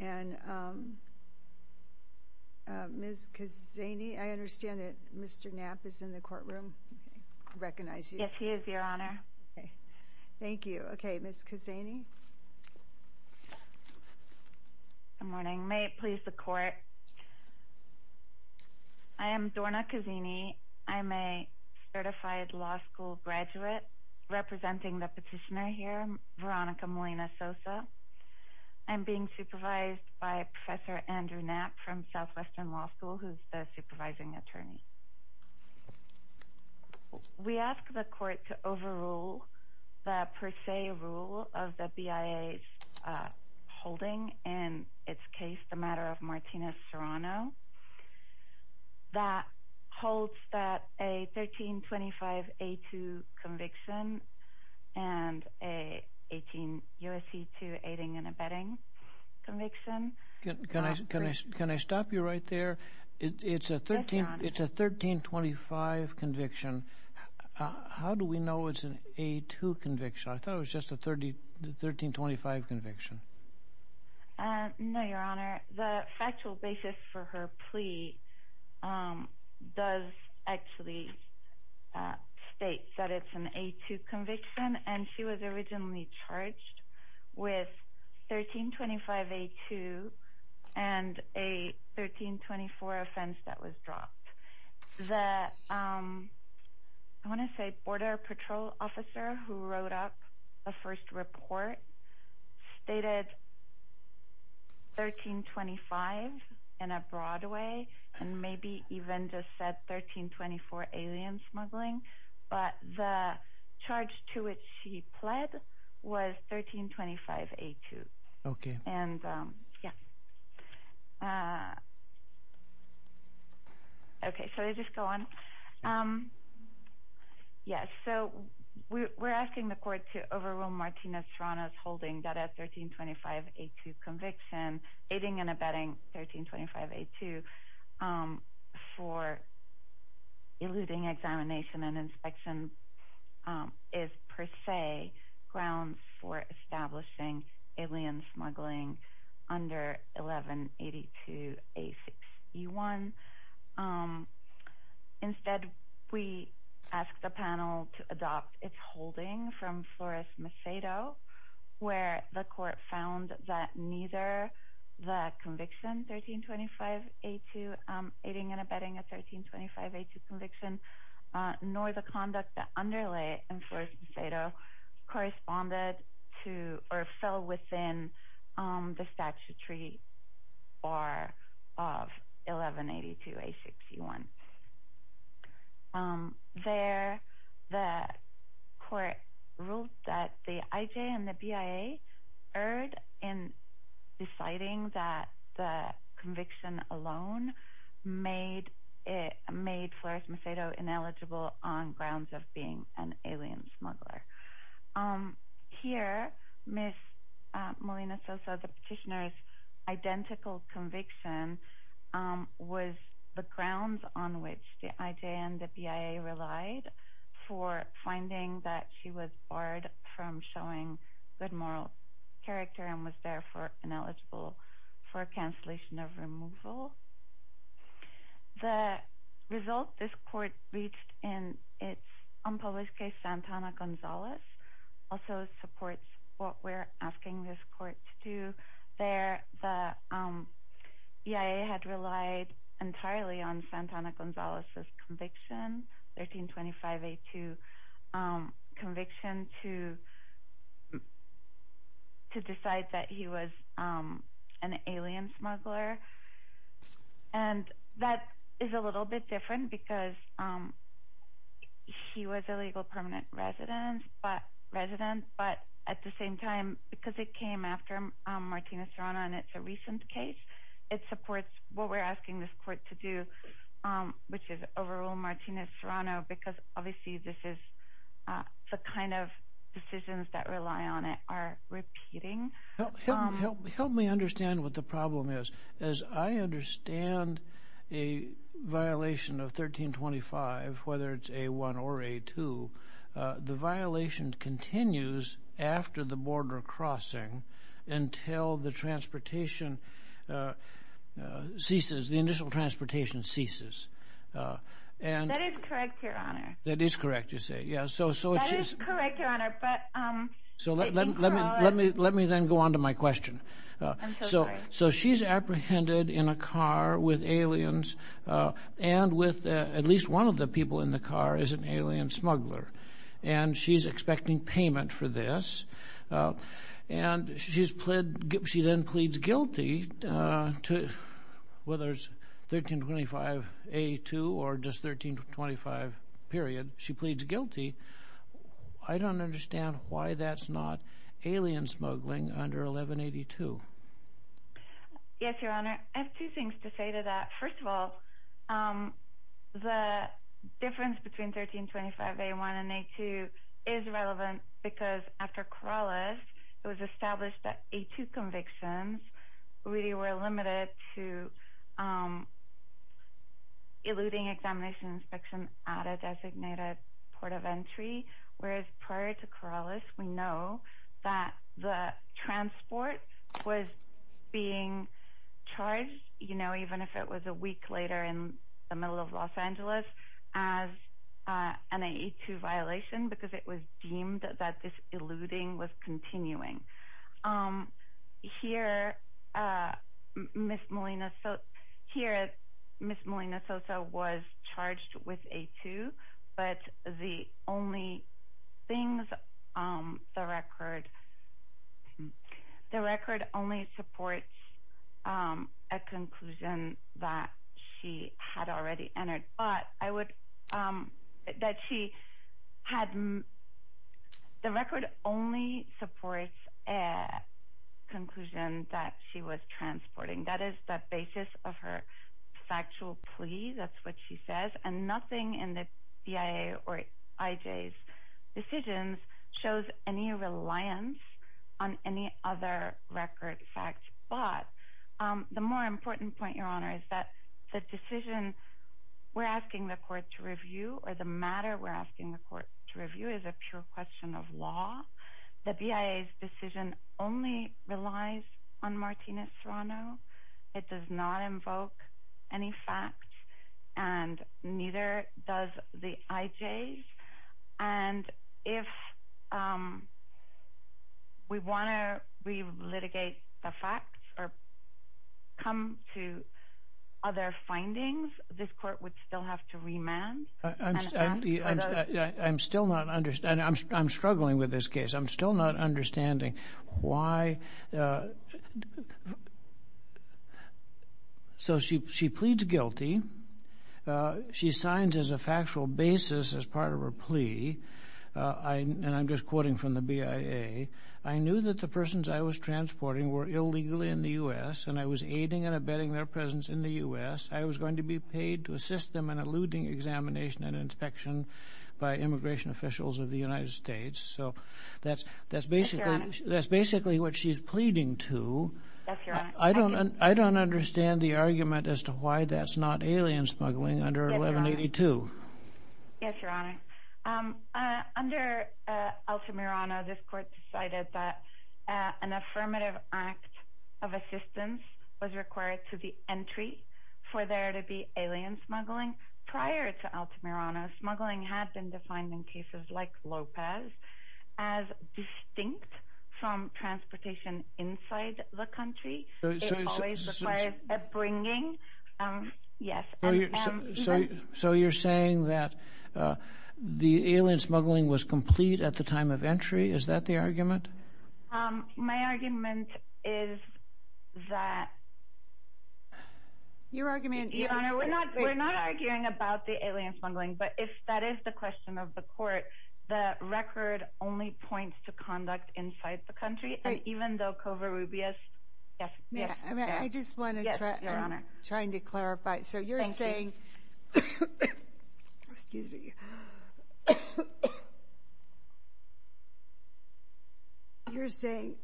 And Ms. Cazzani, I understand that Mr. Knapp is in the courtroom. I recognize you. Yes, he is, Your Honor. Thank you. Okay, Ms. Cazzani. Good morning. May it please the Court, I am Dorna Cazzani. I'm a certified law school graduate representing the petitioner here, Veronica Molina-Sosa. I'm being supervised by Professor Andrew Knapp from Southwestern Law School, who is the supervising attorney. We ask the Court to overrule the per se rule of the BIA's holding in its case, the matter of Martina Serrano. That holds that a 1325A2 conviction and a 18USC2 aiding and abetting conviction. Can I stop you right there? It's a 1325 conviction. How do we know it's an A2 conviction? I thought it was just a 1325 conviction. No, Your Honor. The factual basis for her plea does actually state that it's an A2 conviction, and she was originally charged with 1325A2 and a 1324 offense that was dropped. The Border Patrol officer who wrote up the first report stated 1325 in a broad way and maybe even just said 1324 alien smuggling, but the charge to which she pled was 1325A2. We're asking the Court to overrule Martina Serrano's holding that a 1325A2 conviction, aiding and abetting 1325A2 for eluding examination and inspection is per se grounds for establishing alien smuggling under 1182A6E1. Instead, we ask the panel to adopt its holding from Flores-Macedo where the Court found that neither the conviction 1325A2, aiding and abetting a 1325A2 conviction, nor the conduct that underlay in Flores-Macedo corresponded to or fell within the statutory bar of 1182A6E1. There, the Court ruled that the IJ and the BIA erred in deciding that the conviction alone made Flores-Macedo ineligible on grounds of being an alien smuggler. Here, Ms. Molina-Sosa, the petitioner's identical conviction was the grounds on which the IJ and the BIA relied for finding that she was barred from showing good moral character and was therefore ineligible for cancellation of removal. The result this Court reached in its unpublished case, Santana-Gonzalez, also supports what we're asking this Court to do. There, the BIA had relied entirely on Santana-Gonzalez's conviction, 1325A2 conviction, to decide that he was an alien smuggler. And that is a little bit different because he was a legal permanent resident, but at the same time, because it came after Martinez-Serrano and it's a recent case, it supports what we're asking this Court to do, which is overrule Martinez-Serrano, because obviously this is the kind of decisions that rely on it are repeating. Help me understand what the problem is. As I understand a violation of 1325, whether it's A1 or A2, the violation continues after the border crossing until the transportation ceases, the initial transportation ceases. That is correct, Your Honor. That is correct, you say. That is correct, Your Honor, but... Let me then go on to my question. I'm so sorry. So she's apprehended in a car with aliens and with at least one of the people in the car is an alien smuggler, and she's expecting payment for this. And she then pleads guilty to whether it's 1325 A2 or just 1325 period. She pleads guilty. I don't understand why that's not alien smuggling under 1182. Yes, Your Honor. Your Honor, I have two things to say to that. First of all, the difference between 1325 A1 and A2 is relevant because after Corrales, it was established that A2 convictions really were limited to eluding examination and inspection at a designated port of entry, whereas prior to Corrales, we know that the transport was being charged, you know, even if it was a week later in the middle of Los Angeles, as an A2 violation because it was deemed that this eluding was continuing. Here, Ms. Molina-Sosa was charged with A2, but the record only supports a conclusion that she had already entered. But I would – that she had – the record only supports a conclusion that she was transporting. That is the basis of her factual plea. That's what she says. And nothing in the BIA or IJ's decisions shows any reliance on any other record facts. But the more important point, Your Honor, is that the decision we're asking the court to review or the matter we're asking the court to review is a pure question of law. The BIA's decision only relies on Martinez-Serrano. It does not invoke any facts, and neither does the IJ's. And if we want to re-litigate the facts or come to other findings, this court would still have to remand? I'm still not – I'm struggling with this case. I'm still not understanding why – so she pleads guilty. She signs as a factual basis as part of her plea. And I'm just quoting from the BIA. I knew that the persons I was transporting were illegally in the U.S., and I was aiding and abetting their presence in the U.S. I was going to be paid to assist them in eluding examination and inspection by immigration officials of the United States. So that's basically what she's pleading to. Yes, Your Honor. I don't understand the argument as to why that's not alien smuggling under 1182. Yes, Your Honor. Under Altamirano, this court decided that an affirmative act of assistance was required to the entry for there to be alien smuggling. Prior to Altamirano, smuggling had been defined in cases like Lopez as distinct from transportation inside the country. It always required a bringing. Yes. So you're saying that the alien smuggling was complete at the time of entry? Is that the argument? My argument is that – Your argument is – Your Honor, we're not arguing about the alien smuggling, but if that is the question of the court, the record only points to conduct inside the country, and even though Covarrubias – I just want to – Yes, Your Honor. I'm trying to clarify. So you're saying – Thank you. Excuse me. You're saying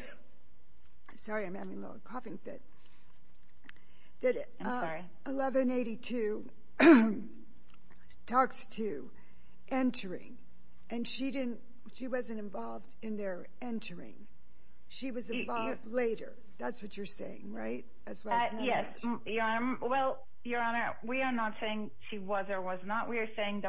– Sorry, I'm having a little coughing fit. I'm sorry. 1182 talks to entering, and she wasn't involved in their entering. She was involved later. That's what you're saying, right? Yes. Well, Your Honor, we are not saying she was or was not. What we are saying,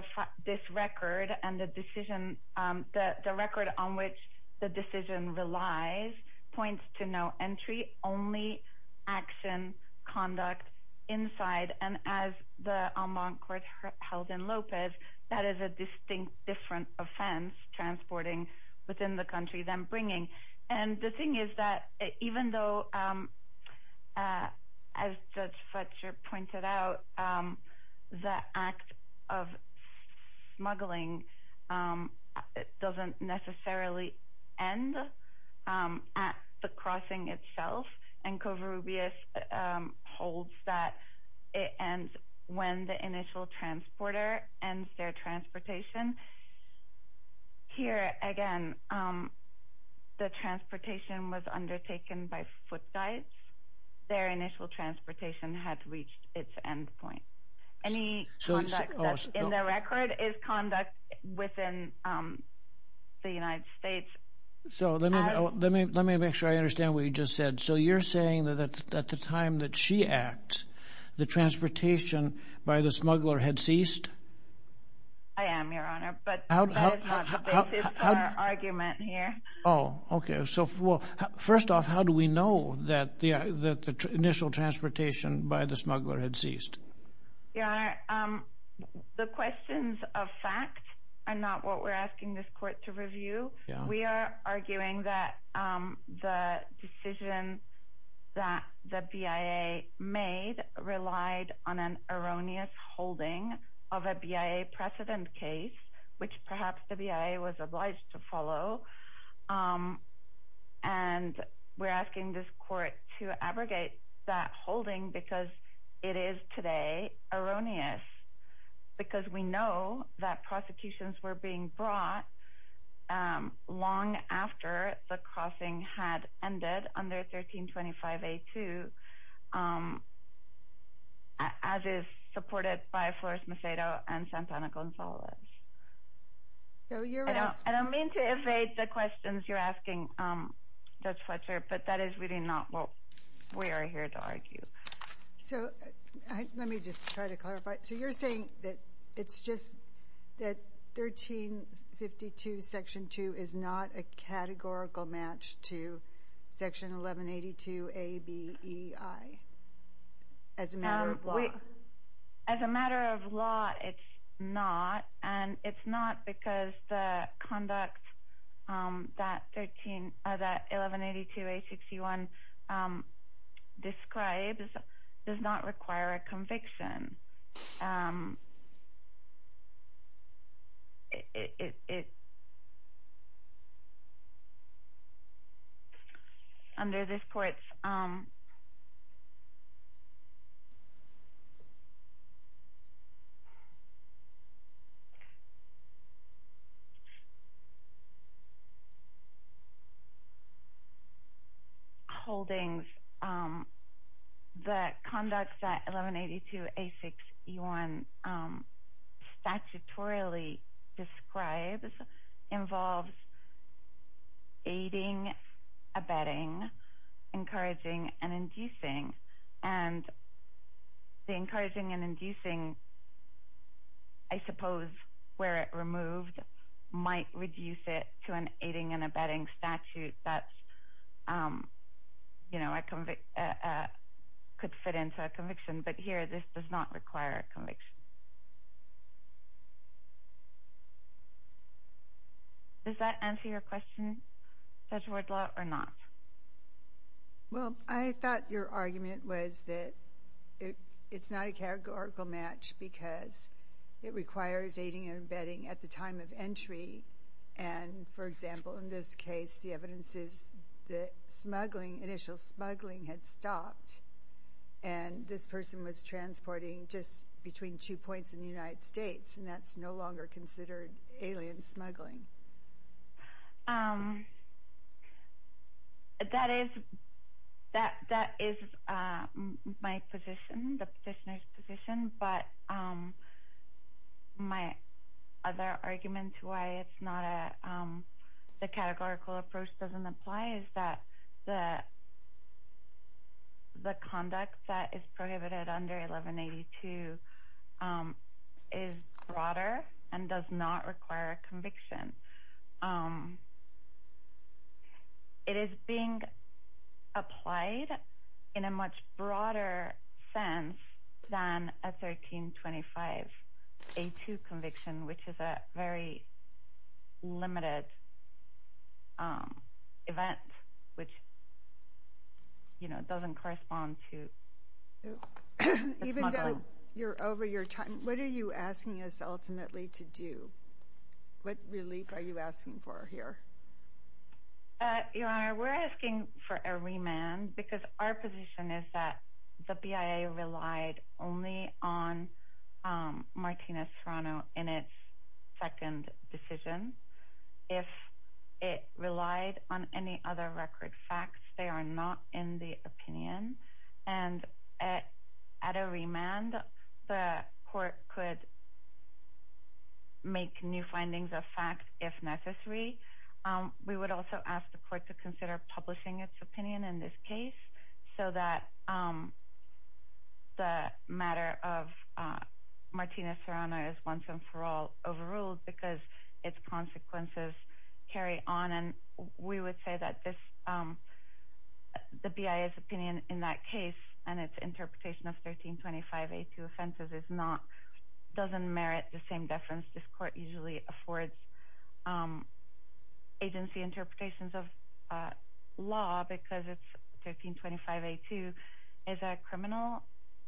this record and the decision – the record on which the decision relies points to no entry, only action, conduct inside, and as the en banc court held in Lopez, that is a distinct different offense, transporting within the country than bringing. And the thing is that even though, as Judge Fletcher pointed out, the act of smuggling doesn't necessarily end at the crossing itself, and Covarrubias holds that it ends when the initial transporter ends their transportation. Here, again, the transportation was undertaken by foot guides. Their initial transportation had reached its end point. Any conduct that's in the record is conduct within the United States. So let me make sure I understand what you just said. So you're saying that at the time that she acts, the transportation by the smuggler had ceased? I am, Your Honor, but that is not the basis for our argument here. Oh, okay. So first off, how do we know that the initial transportation by the smuggler had ceased? Your Honor, the questions of fact are not what we're asking this court to review. We are arguing that the decision that the BIA made relied on an erroneous holding of a BIA precedent case, which perhaps the BIA was obliged to follow. And we're asking this court to abrogate that holding because it is today erroneous, because we know that prosecutions were being brought long after the crossing had ended under 1325A2, as is supported by Flores Macedo and Santana Gonzalez. I don't mean to evade the questions you're asking, Judge Fletcher, but that is really not what we are here to argue. So let me just try to clarify. So you're saying that it's just that 1352 Section 2 is not a categorical match to Section 1182ABEI as a matter of law? As a matter of law, it's not, and it's not because the conduct that 1182A61 describes does not require a conviction. Under this court's holdings, the conduct that 1182A61 describes does not require a conviction. The conduct that 1182A61 statutorily describes involves aiding, abetting, encouraging, and inducing. And the encouraging and inducing, I suppose, where it removed, might reduce it to an aiding and abetting statute that could fit into a conviction. But here, this does not require a conviction. Does that answer your question, Judge Wardlaw, or not? Well, I thought your argument was that it's not a categorical match because it requires aiding and abetting at the time of entry. And, for example, in this case, the evidence is that smuggling, initial smuggling, had stopped. And this person was transporting just between two points in the United States, and that's no longer considered alien smuggling. That is my position, the petitioner's position, but my other argument to why the categorical approach doesn't apply is that the conduct that is prohibited under 1182 is broader and does not require a conviction. It is being applied in a much broader sense than a 1325A2 conviction, which is a very limited event, which doesn't correspond to the smuggling. You're over your time. What are you asking us ultimately to do? What relief are you asking for here? Your Honor, we're asking for a remand because our position is that the BIA relied only on Martina Serrano in its second decision. If it relied on any other record facts, they are not in the opinion, and at a remand, the court could make new findings of fact if necessary. We would also ask the court to consider publishing its opinion in this case so that the matter of Martina Serrano is once and for all overruled because its consequences carry on. We would say that the BIA's opinion in that case and its interpretation of 1325A2 offenses doesn't merit the same deference. This court usually affords agency interpretations of law because 1325A2 is a criminal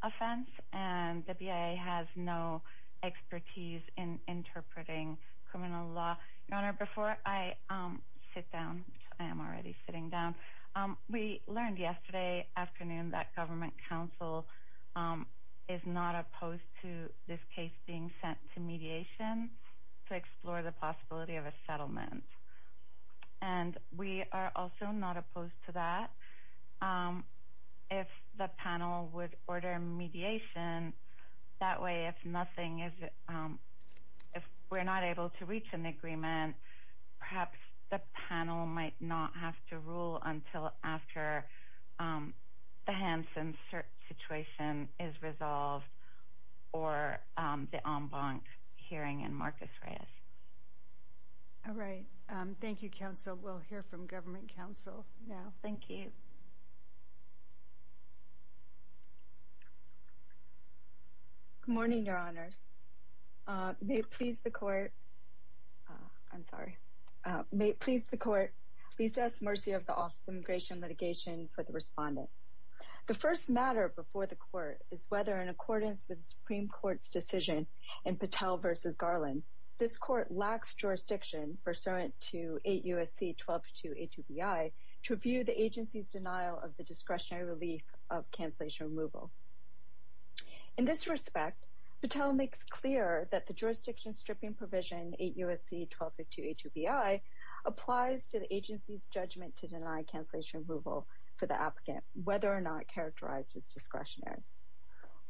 offense and the BIA has no expertise in interpreting criminal law. Your Honor, before I sit down, which I am already sitting down, we learned yesterday afternoon that government counsel is not opposed to this case being sent to mediation to explore the possibility of a settlement. And we are also not opposed to that. If the panel would order mediation, that way if we're not able to reach an agreement, perhaps the panel might not have to rule until after the Hansen situation is resolved or the en banc hearing in Marcus Reyes. All right. Thank you, counsel. We'll hear from government counsel now. Thank you. Good morning, Your Honors. May it please the court. I'm sorry. May it please the court. Please ask mercy of the Office of Immigration and Litigation for the respondent. The first matter before the court is whether in accordance with the Supreme Court's decision in Patel v. Garland, this court lacks jurisdiction pursuant to 8 U.S.C. 1252A2BI to review the agency's denial of the discretionary relief of cancellation removal. In this respect, Patel makes clear that the jurisdiction stripping provision 8 U.S.C. 1252A2BI applies to the agency's judgment to deny cancellation removal for the applicant, whether or not it characterizes discretionary.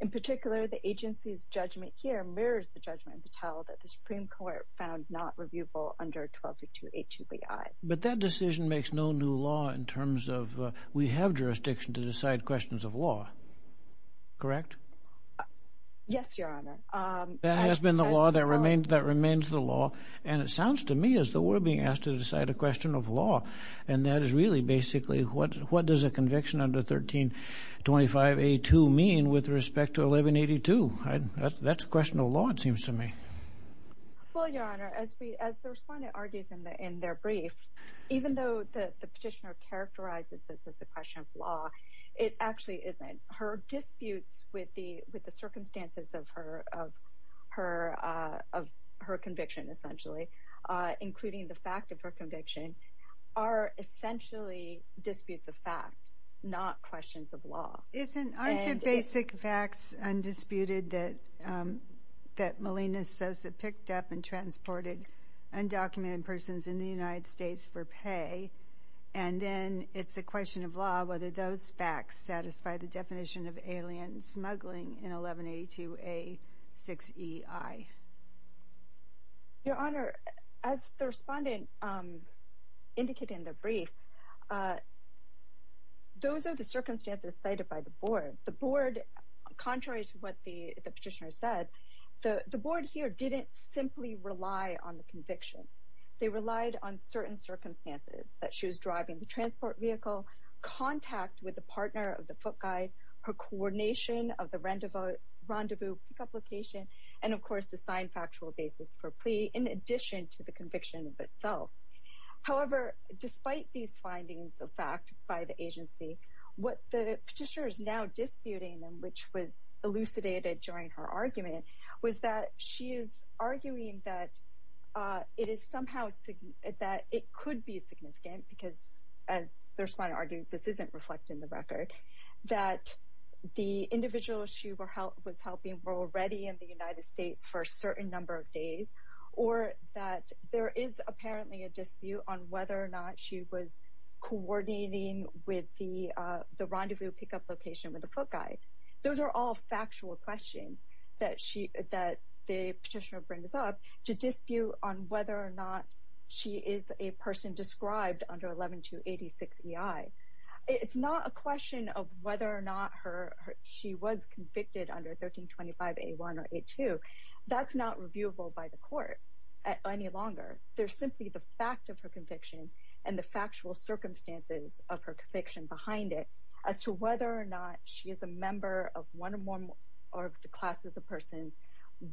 In particular, the agency's judgment here mirrors the judgment in Patel that the Supreme Court found not reviewable under 1252A2BI. But that decision makes no new law in terms of we have jurisdiction to decide questions of law. Correct? Yes, Your Honor. That has been the law. That remains the law. And it sounds to me as though we're being asked to decide a question of law. And that is really basically what does a conviction under 1325A2 mean with respect to 1182? That's a question of law it seems to me. Well, Your Honor, as the respondent argues in their brief, even though the petitioner characterizes this as a question of law, it actually isn't. The disputes with the circumstances of her conviction essentially, including the fact of her conviction, are essentially disputes of fact, not questions of law. Aren't the basic facts undisputed that Malina Sosa picked up and transported undocumented persons in the United States for pay? And then it's a question of law whether those facts satisfy the definition of alien smuggling in 1182A6EI. Your Honor, as the respondent indicated in the brief, those are the circumstances cited by the Board. The Board, contrary to what the petitioner said, the Board here didn't simply rely on the conviction. They relied on certain circumstances that she was driving the transport vehicle, contact with the partner of the foot guide, her coordination of the rendezvous pick-up location, and of course the signed factual basis for plea in addition to the conviction of itself. However, despite these findings of fact by the agency, what the petitioner is now disputing, which was elucidated during her argument, was that she is arguing that it could be significant, because as the respondent argues, this isn't reflected in the record, that the individuals she was helping were already in the United States for a certain number of days, or that there is apparently a dispute on whether or not she was coordinating with the rendezvous pick-up location with the foot guide. Those are all factual questions that the petitioner brings up to dispute on whether or not she is a person described under 11286EI. It's not a question of whether or not she was convicted under 1325A1 or A2. That's not reviewable by the court any longer. There's simply the fact of her conviction and the factual circumstances of her conviction behind it, as to whether or not she is a member of one or more of the classes of persons,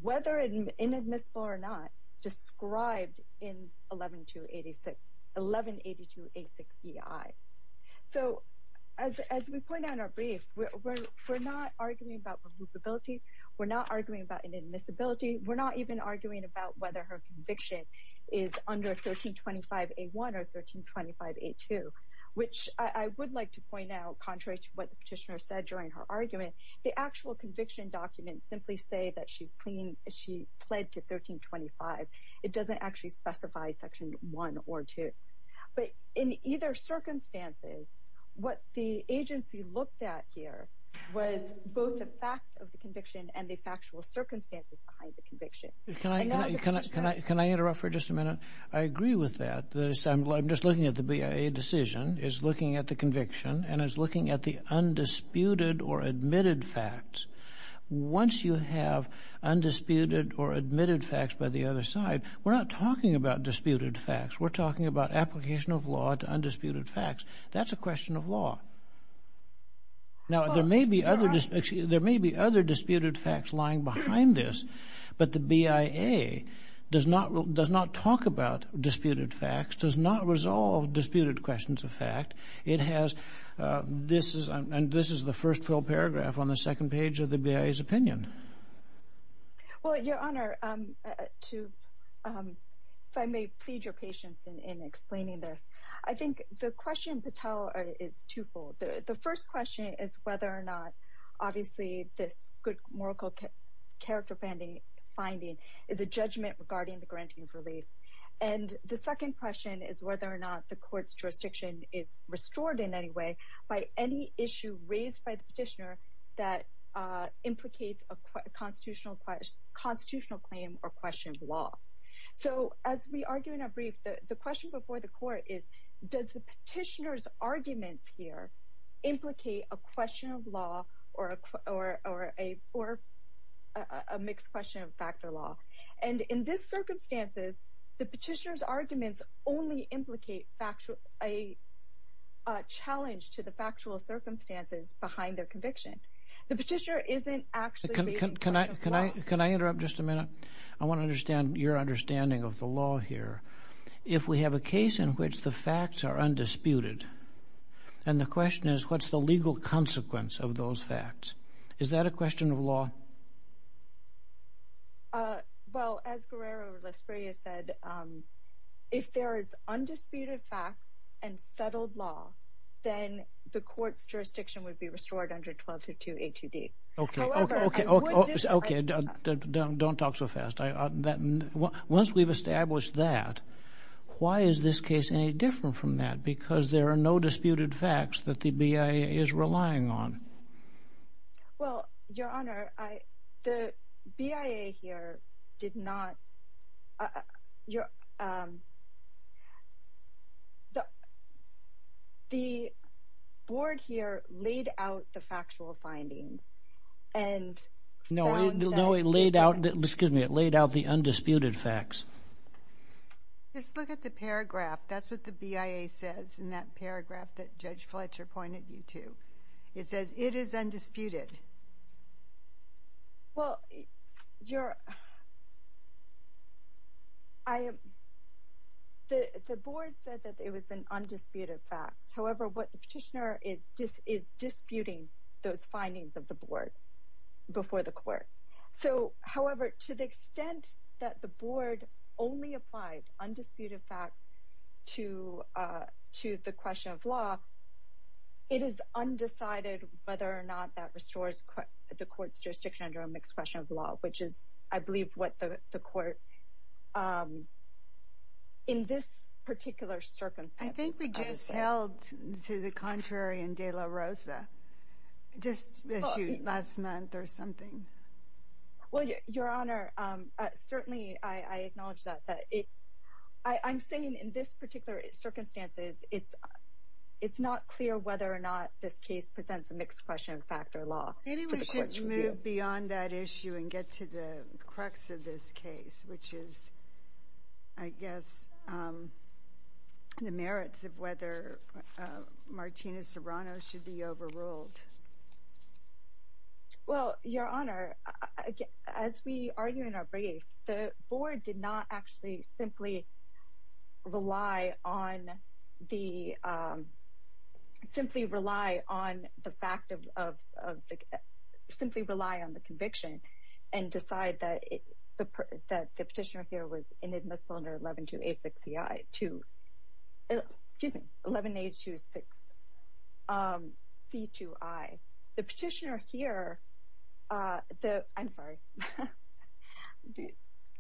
whether inadmissible or not, described in 1182A6EI. So, as we point out in our brief, we're not arguing about removability, we're not arguing about inadmissibility, and we're not even arguing about whether her conviction is under 1325A1 or 1325A2, which I would like to point out, contrary to what the petitioner said during her argument, the actual conviction documents simply say that she pled to 1325. It doesn't actually specify Section 1 or 2. But in either circumstances, what the agency looked at here was both the fact of the conviction and the factual circumstances behind the conviction. Can I interrupt for just a minute? I agree with that. I'm just looking at the BIA decision, is looking at the conviction, and is looking at the undisputed or admitted facts. Once you have undisputed or admitted facts by the other side, we're not talking about disputed facts, we're talking about application of law to undisputed facts. That's a question of law. Now, there may be other disputed facts lying behind this, but the BIA does not talk about disputed facts, does not resolve disputed questions of fact. It has, this is the first full paragraph on the second page of the BIA's opinion. Well, Your Honor, if I may plead your patience in explaining this, I think the question, Patel, is twofold. The first question is whether or not, obviously, this good moral character finding is a judgment regarding the granting of relief. And the second question is whether or not the court's jurisdiction is restored in any way by any issue raised by the petitioner that implicates a constitutional claim or question of law. So, as we argue in our brief, the question before the court is, does the petitioner's arguments here implicate a question of law or a mixed question of fact or law? And in this circumstances, the petitioner's arguments only implicate a challenge to the factual circumstances behind their conviction. The petitioner isn't actually raising a question of law. Can I interrupt just a minute? I want to understand your understanding of the law here. If we have a case in which the facts are undisputed, then the question is, what's the legal consequence of those facts? Is that a question of law? Well, as Guerrero Laspiria said, if there is undisputed facts and settled law, then the court's jurisdiction would be restored under 1202 A2D. Okay, don't talk so fast. Once we've established that, why is this case any different from that? Because there are no disputed facts that the BIA is relying on. Well, Your Honor, the BIA here did not... The board here laid out the factual findings and... No, it laid out the undisputed facts. Just look at the paragraph. That's what the BIA says in that paragraph that Judge Fletcher pointed you to. It is undisputed. The board said that it was an undisputed fact. However, what the petitioner is disputing is those findings of the board before the court. So, however, to the extent that the board only applied undisputed facts to the question of law, it is undecided whether or not that restores the court's jurisdiction under a mixed question of law, which is, I believe, what the court in this particular circumstance... Well, to the contrary in De La Rosa, just issued last month or something. Well, Your Honor, certainly I acknowledge that. I'm saying in this particular circumstance, it's not clear whether or not this case presents a mixed question of fact or law. Maybe we should move beyond that issue and get to the crux of this case, which is, I guess, the merits of whether Martina Serrano should be overruled. Well, Your Honor, as we argue in our brief, the board did not actually simply rely on the fact of... The petitioner here was inadmissible under 11A2C2I. The petitioner here... I'm sorry.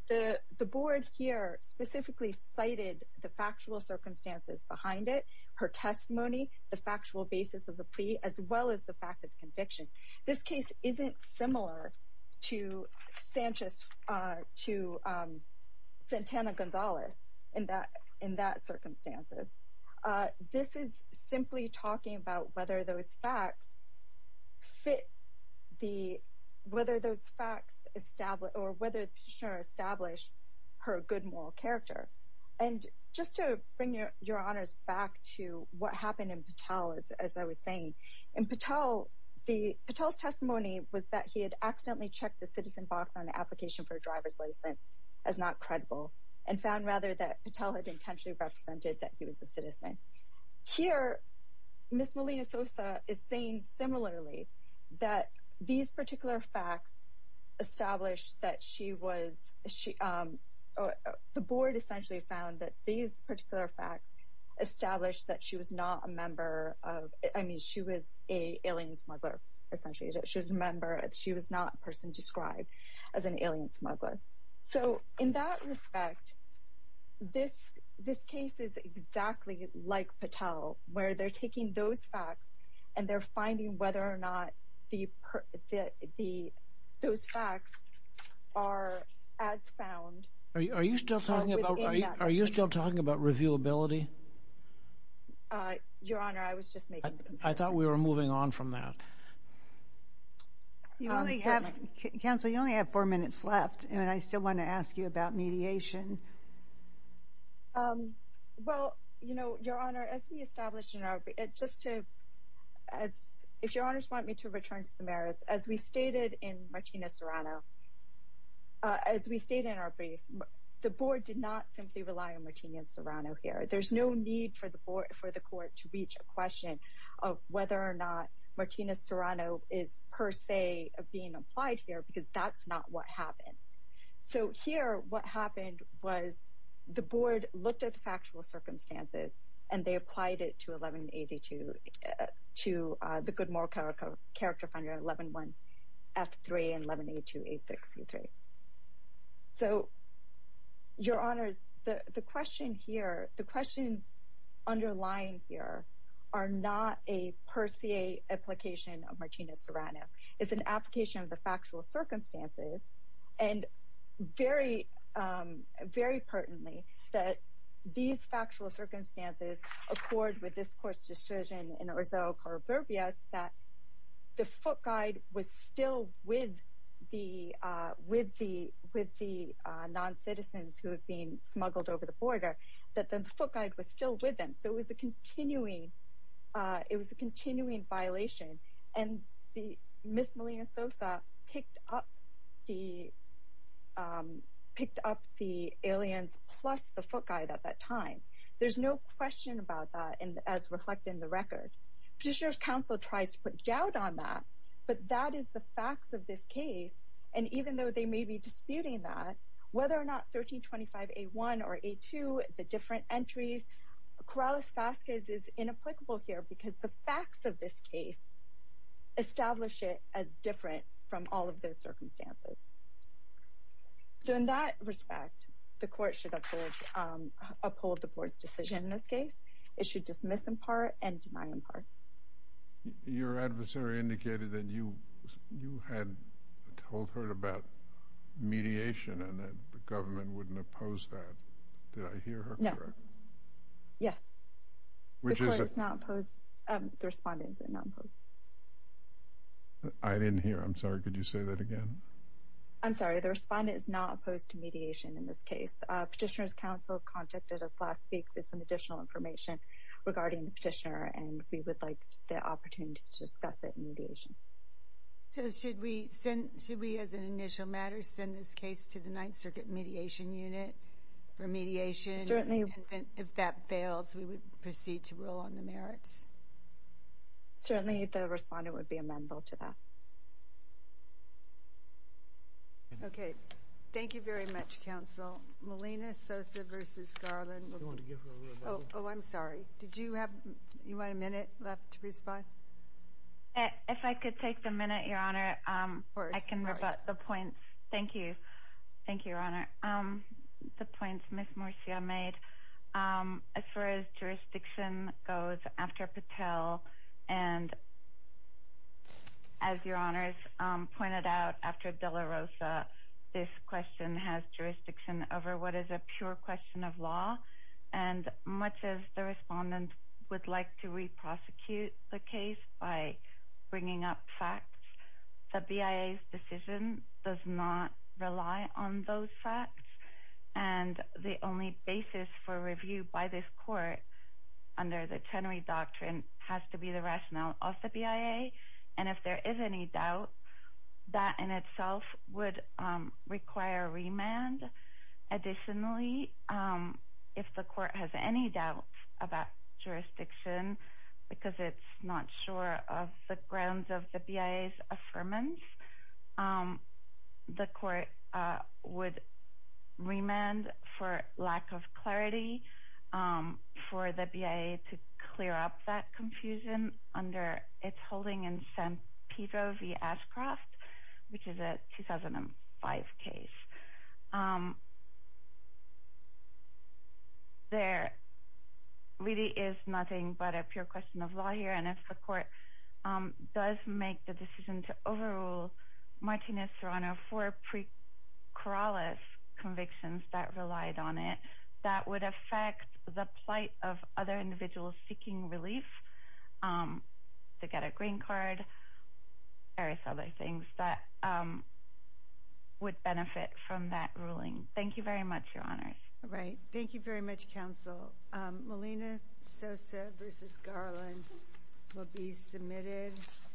The board here specifically cited the factual circumstances behind it, her testimony, the factual basis of the plea, as well as the fact of conviction. This case isn't similar to Santana Gonzalez in that circumstances. This is simply talking about whether those facts establish her good moral character. And just to bring Your Honors back to what happened in Patel, as I was saying, in Patel, Patel's testimony was that he had accidentally checked the citizen box on the application for a driver's license as not credible, and found rather that Patel had intentionally represented that he was a citizen. Here, Ms. Molina Sosa is saying similarly that these particular facts established that she was... She was an alien smuggler, essentially. She was not a person described as an alien smuggler. So, in that respect, this case is exactly like Patel, where they're taking those facts and they're finding whether or not those facts are as found... Are you still talking about reviewability? Your Honor, I was just making... We're moving on from that. Counsel, you only have four minutes left, and I still want to ask you about mediation. Well, Your Honor, as we established in our brief, just to... If Your Honors want me to return to the merits, as we stated in Martina Serrano, as we stated in our brief, the Board did not simply rely on Martina Serrano here. There's no need for the Court to reach a question of whether or not Martina Serrano is, per se, being applied here, because that's not what happened. So, here, what happened was the Board looked at the factual circumstances, and they applied it to the Goodmore Character Finder 111F3 and 1182A6C3. So, Your Honors, the question here... The questions underlying here are not a, per se, application of Martina Serrano. It's an application of the factual circumstances, and very pertinently, that these factual circumstances accord with this Court's decision in Orzo Corroborbius that the foot guide was still with the non-citizens who had been smuggled over the border, that the foot guide was still with them. So, it was a continuing violation, and Ms. Molina Sosa picked up the aliens plus the foot guide at that time. There's no question about that, as reflected in the record. Petitioner's Counsel tries to put doubt on that, but that is the facts of this case, and even though they may be disputing that, whether or not 1325A1 or A2, the different entries, Corrales-Vazquez is inapplicable here because the facts of this case establish it as different from all of those circumstances. So, in that respect, the Court should uphold the Court's decision in this case. It should dismiss in part and deny in part. Your adversary indicated that you had told her about mediation, and that the government wouldn't oppose that. Did I hear her correct? Yes. Which is? The Respondent is not opposed. I didn't hear. I'm sorry. Could you say that again? I'm sorry. The Respondent is not opposed to mediation in this case. Petitioner's Counsel contacted us last week with some additional information regarding the petitioner, and we would like the opportunity to discuss it in mediation. So, should we, as an initial matter, send this case to the Ninth Circuit Mediation Unit for mediation? Certainly. And if that fails, we would proceed to rule on the merits? Certainly. The Respondent would be amendable to that. Okay. Thank you very much, Counsel. Molina Sosa v. Garland. Oh, I'm sorry. Did you have, you had a minute left to respond? If I could take the minute, Your Honor. Of course. I can rebut the points. Thank you. Thank you, Your Honor. The points Ms. Morcia made, as far as jurisdiction goes, after Patel and, as Your Honor's pointed out, after de la Rosa, this question has jurisdiction over what is a pure question of law. And much as the Respondent would like to re-prosecute the case by bringing up facts, the BIA's decision does not rely on those facts. And the only basis for review by this Court, under the Chenery Doctrine, has to be the rationale of the BIA. And if there is any doubt, that in itself would require remand. Additionally, if the Court has any doubt about jurisdiction because it's not sure of the grounds of the BIA's affirmance, the Court would remand for lack of clarity for the BIA to clear up that confusion under its holding in San Pedro v. Ashcroft, which is a 2005 case. There really is nothing but a pure question of law here. And if the Court does make the decision to overrule Martinez-Serrano for pre-Corrales convictions that relied on it, that would affect the plight of other individuals seeking relief to get a green card, various other things, that would benefit from that ruling. Thank you very much, Your Honors. Thank you very much, Counsel. Melina Sosa v. Garland will be submitted.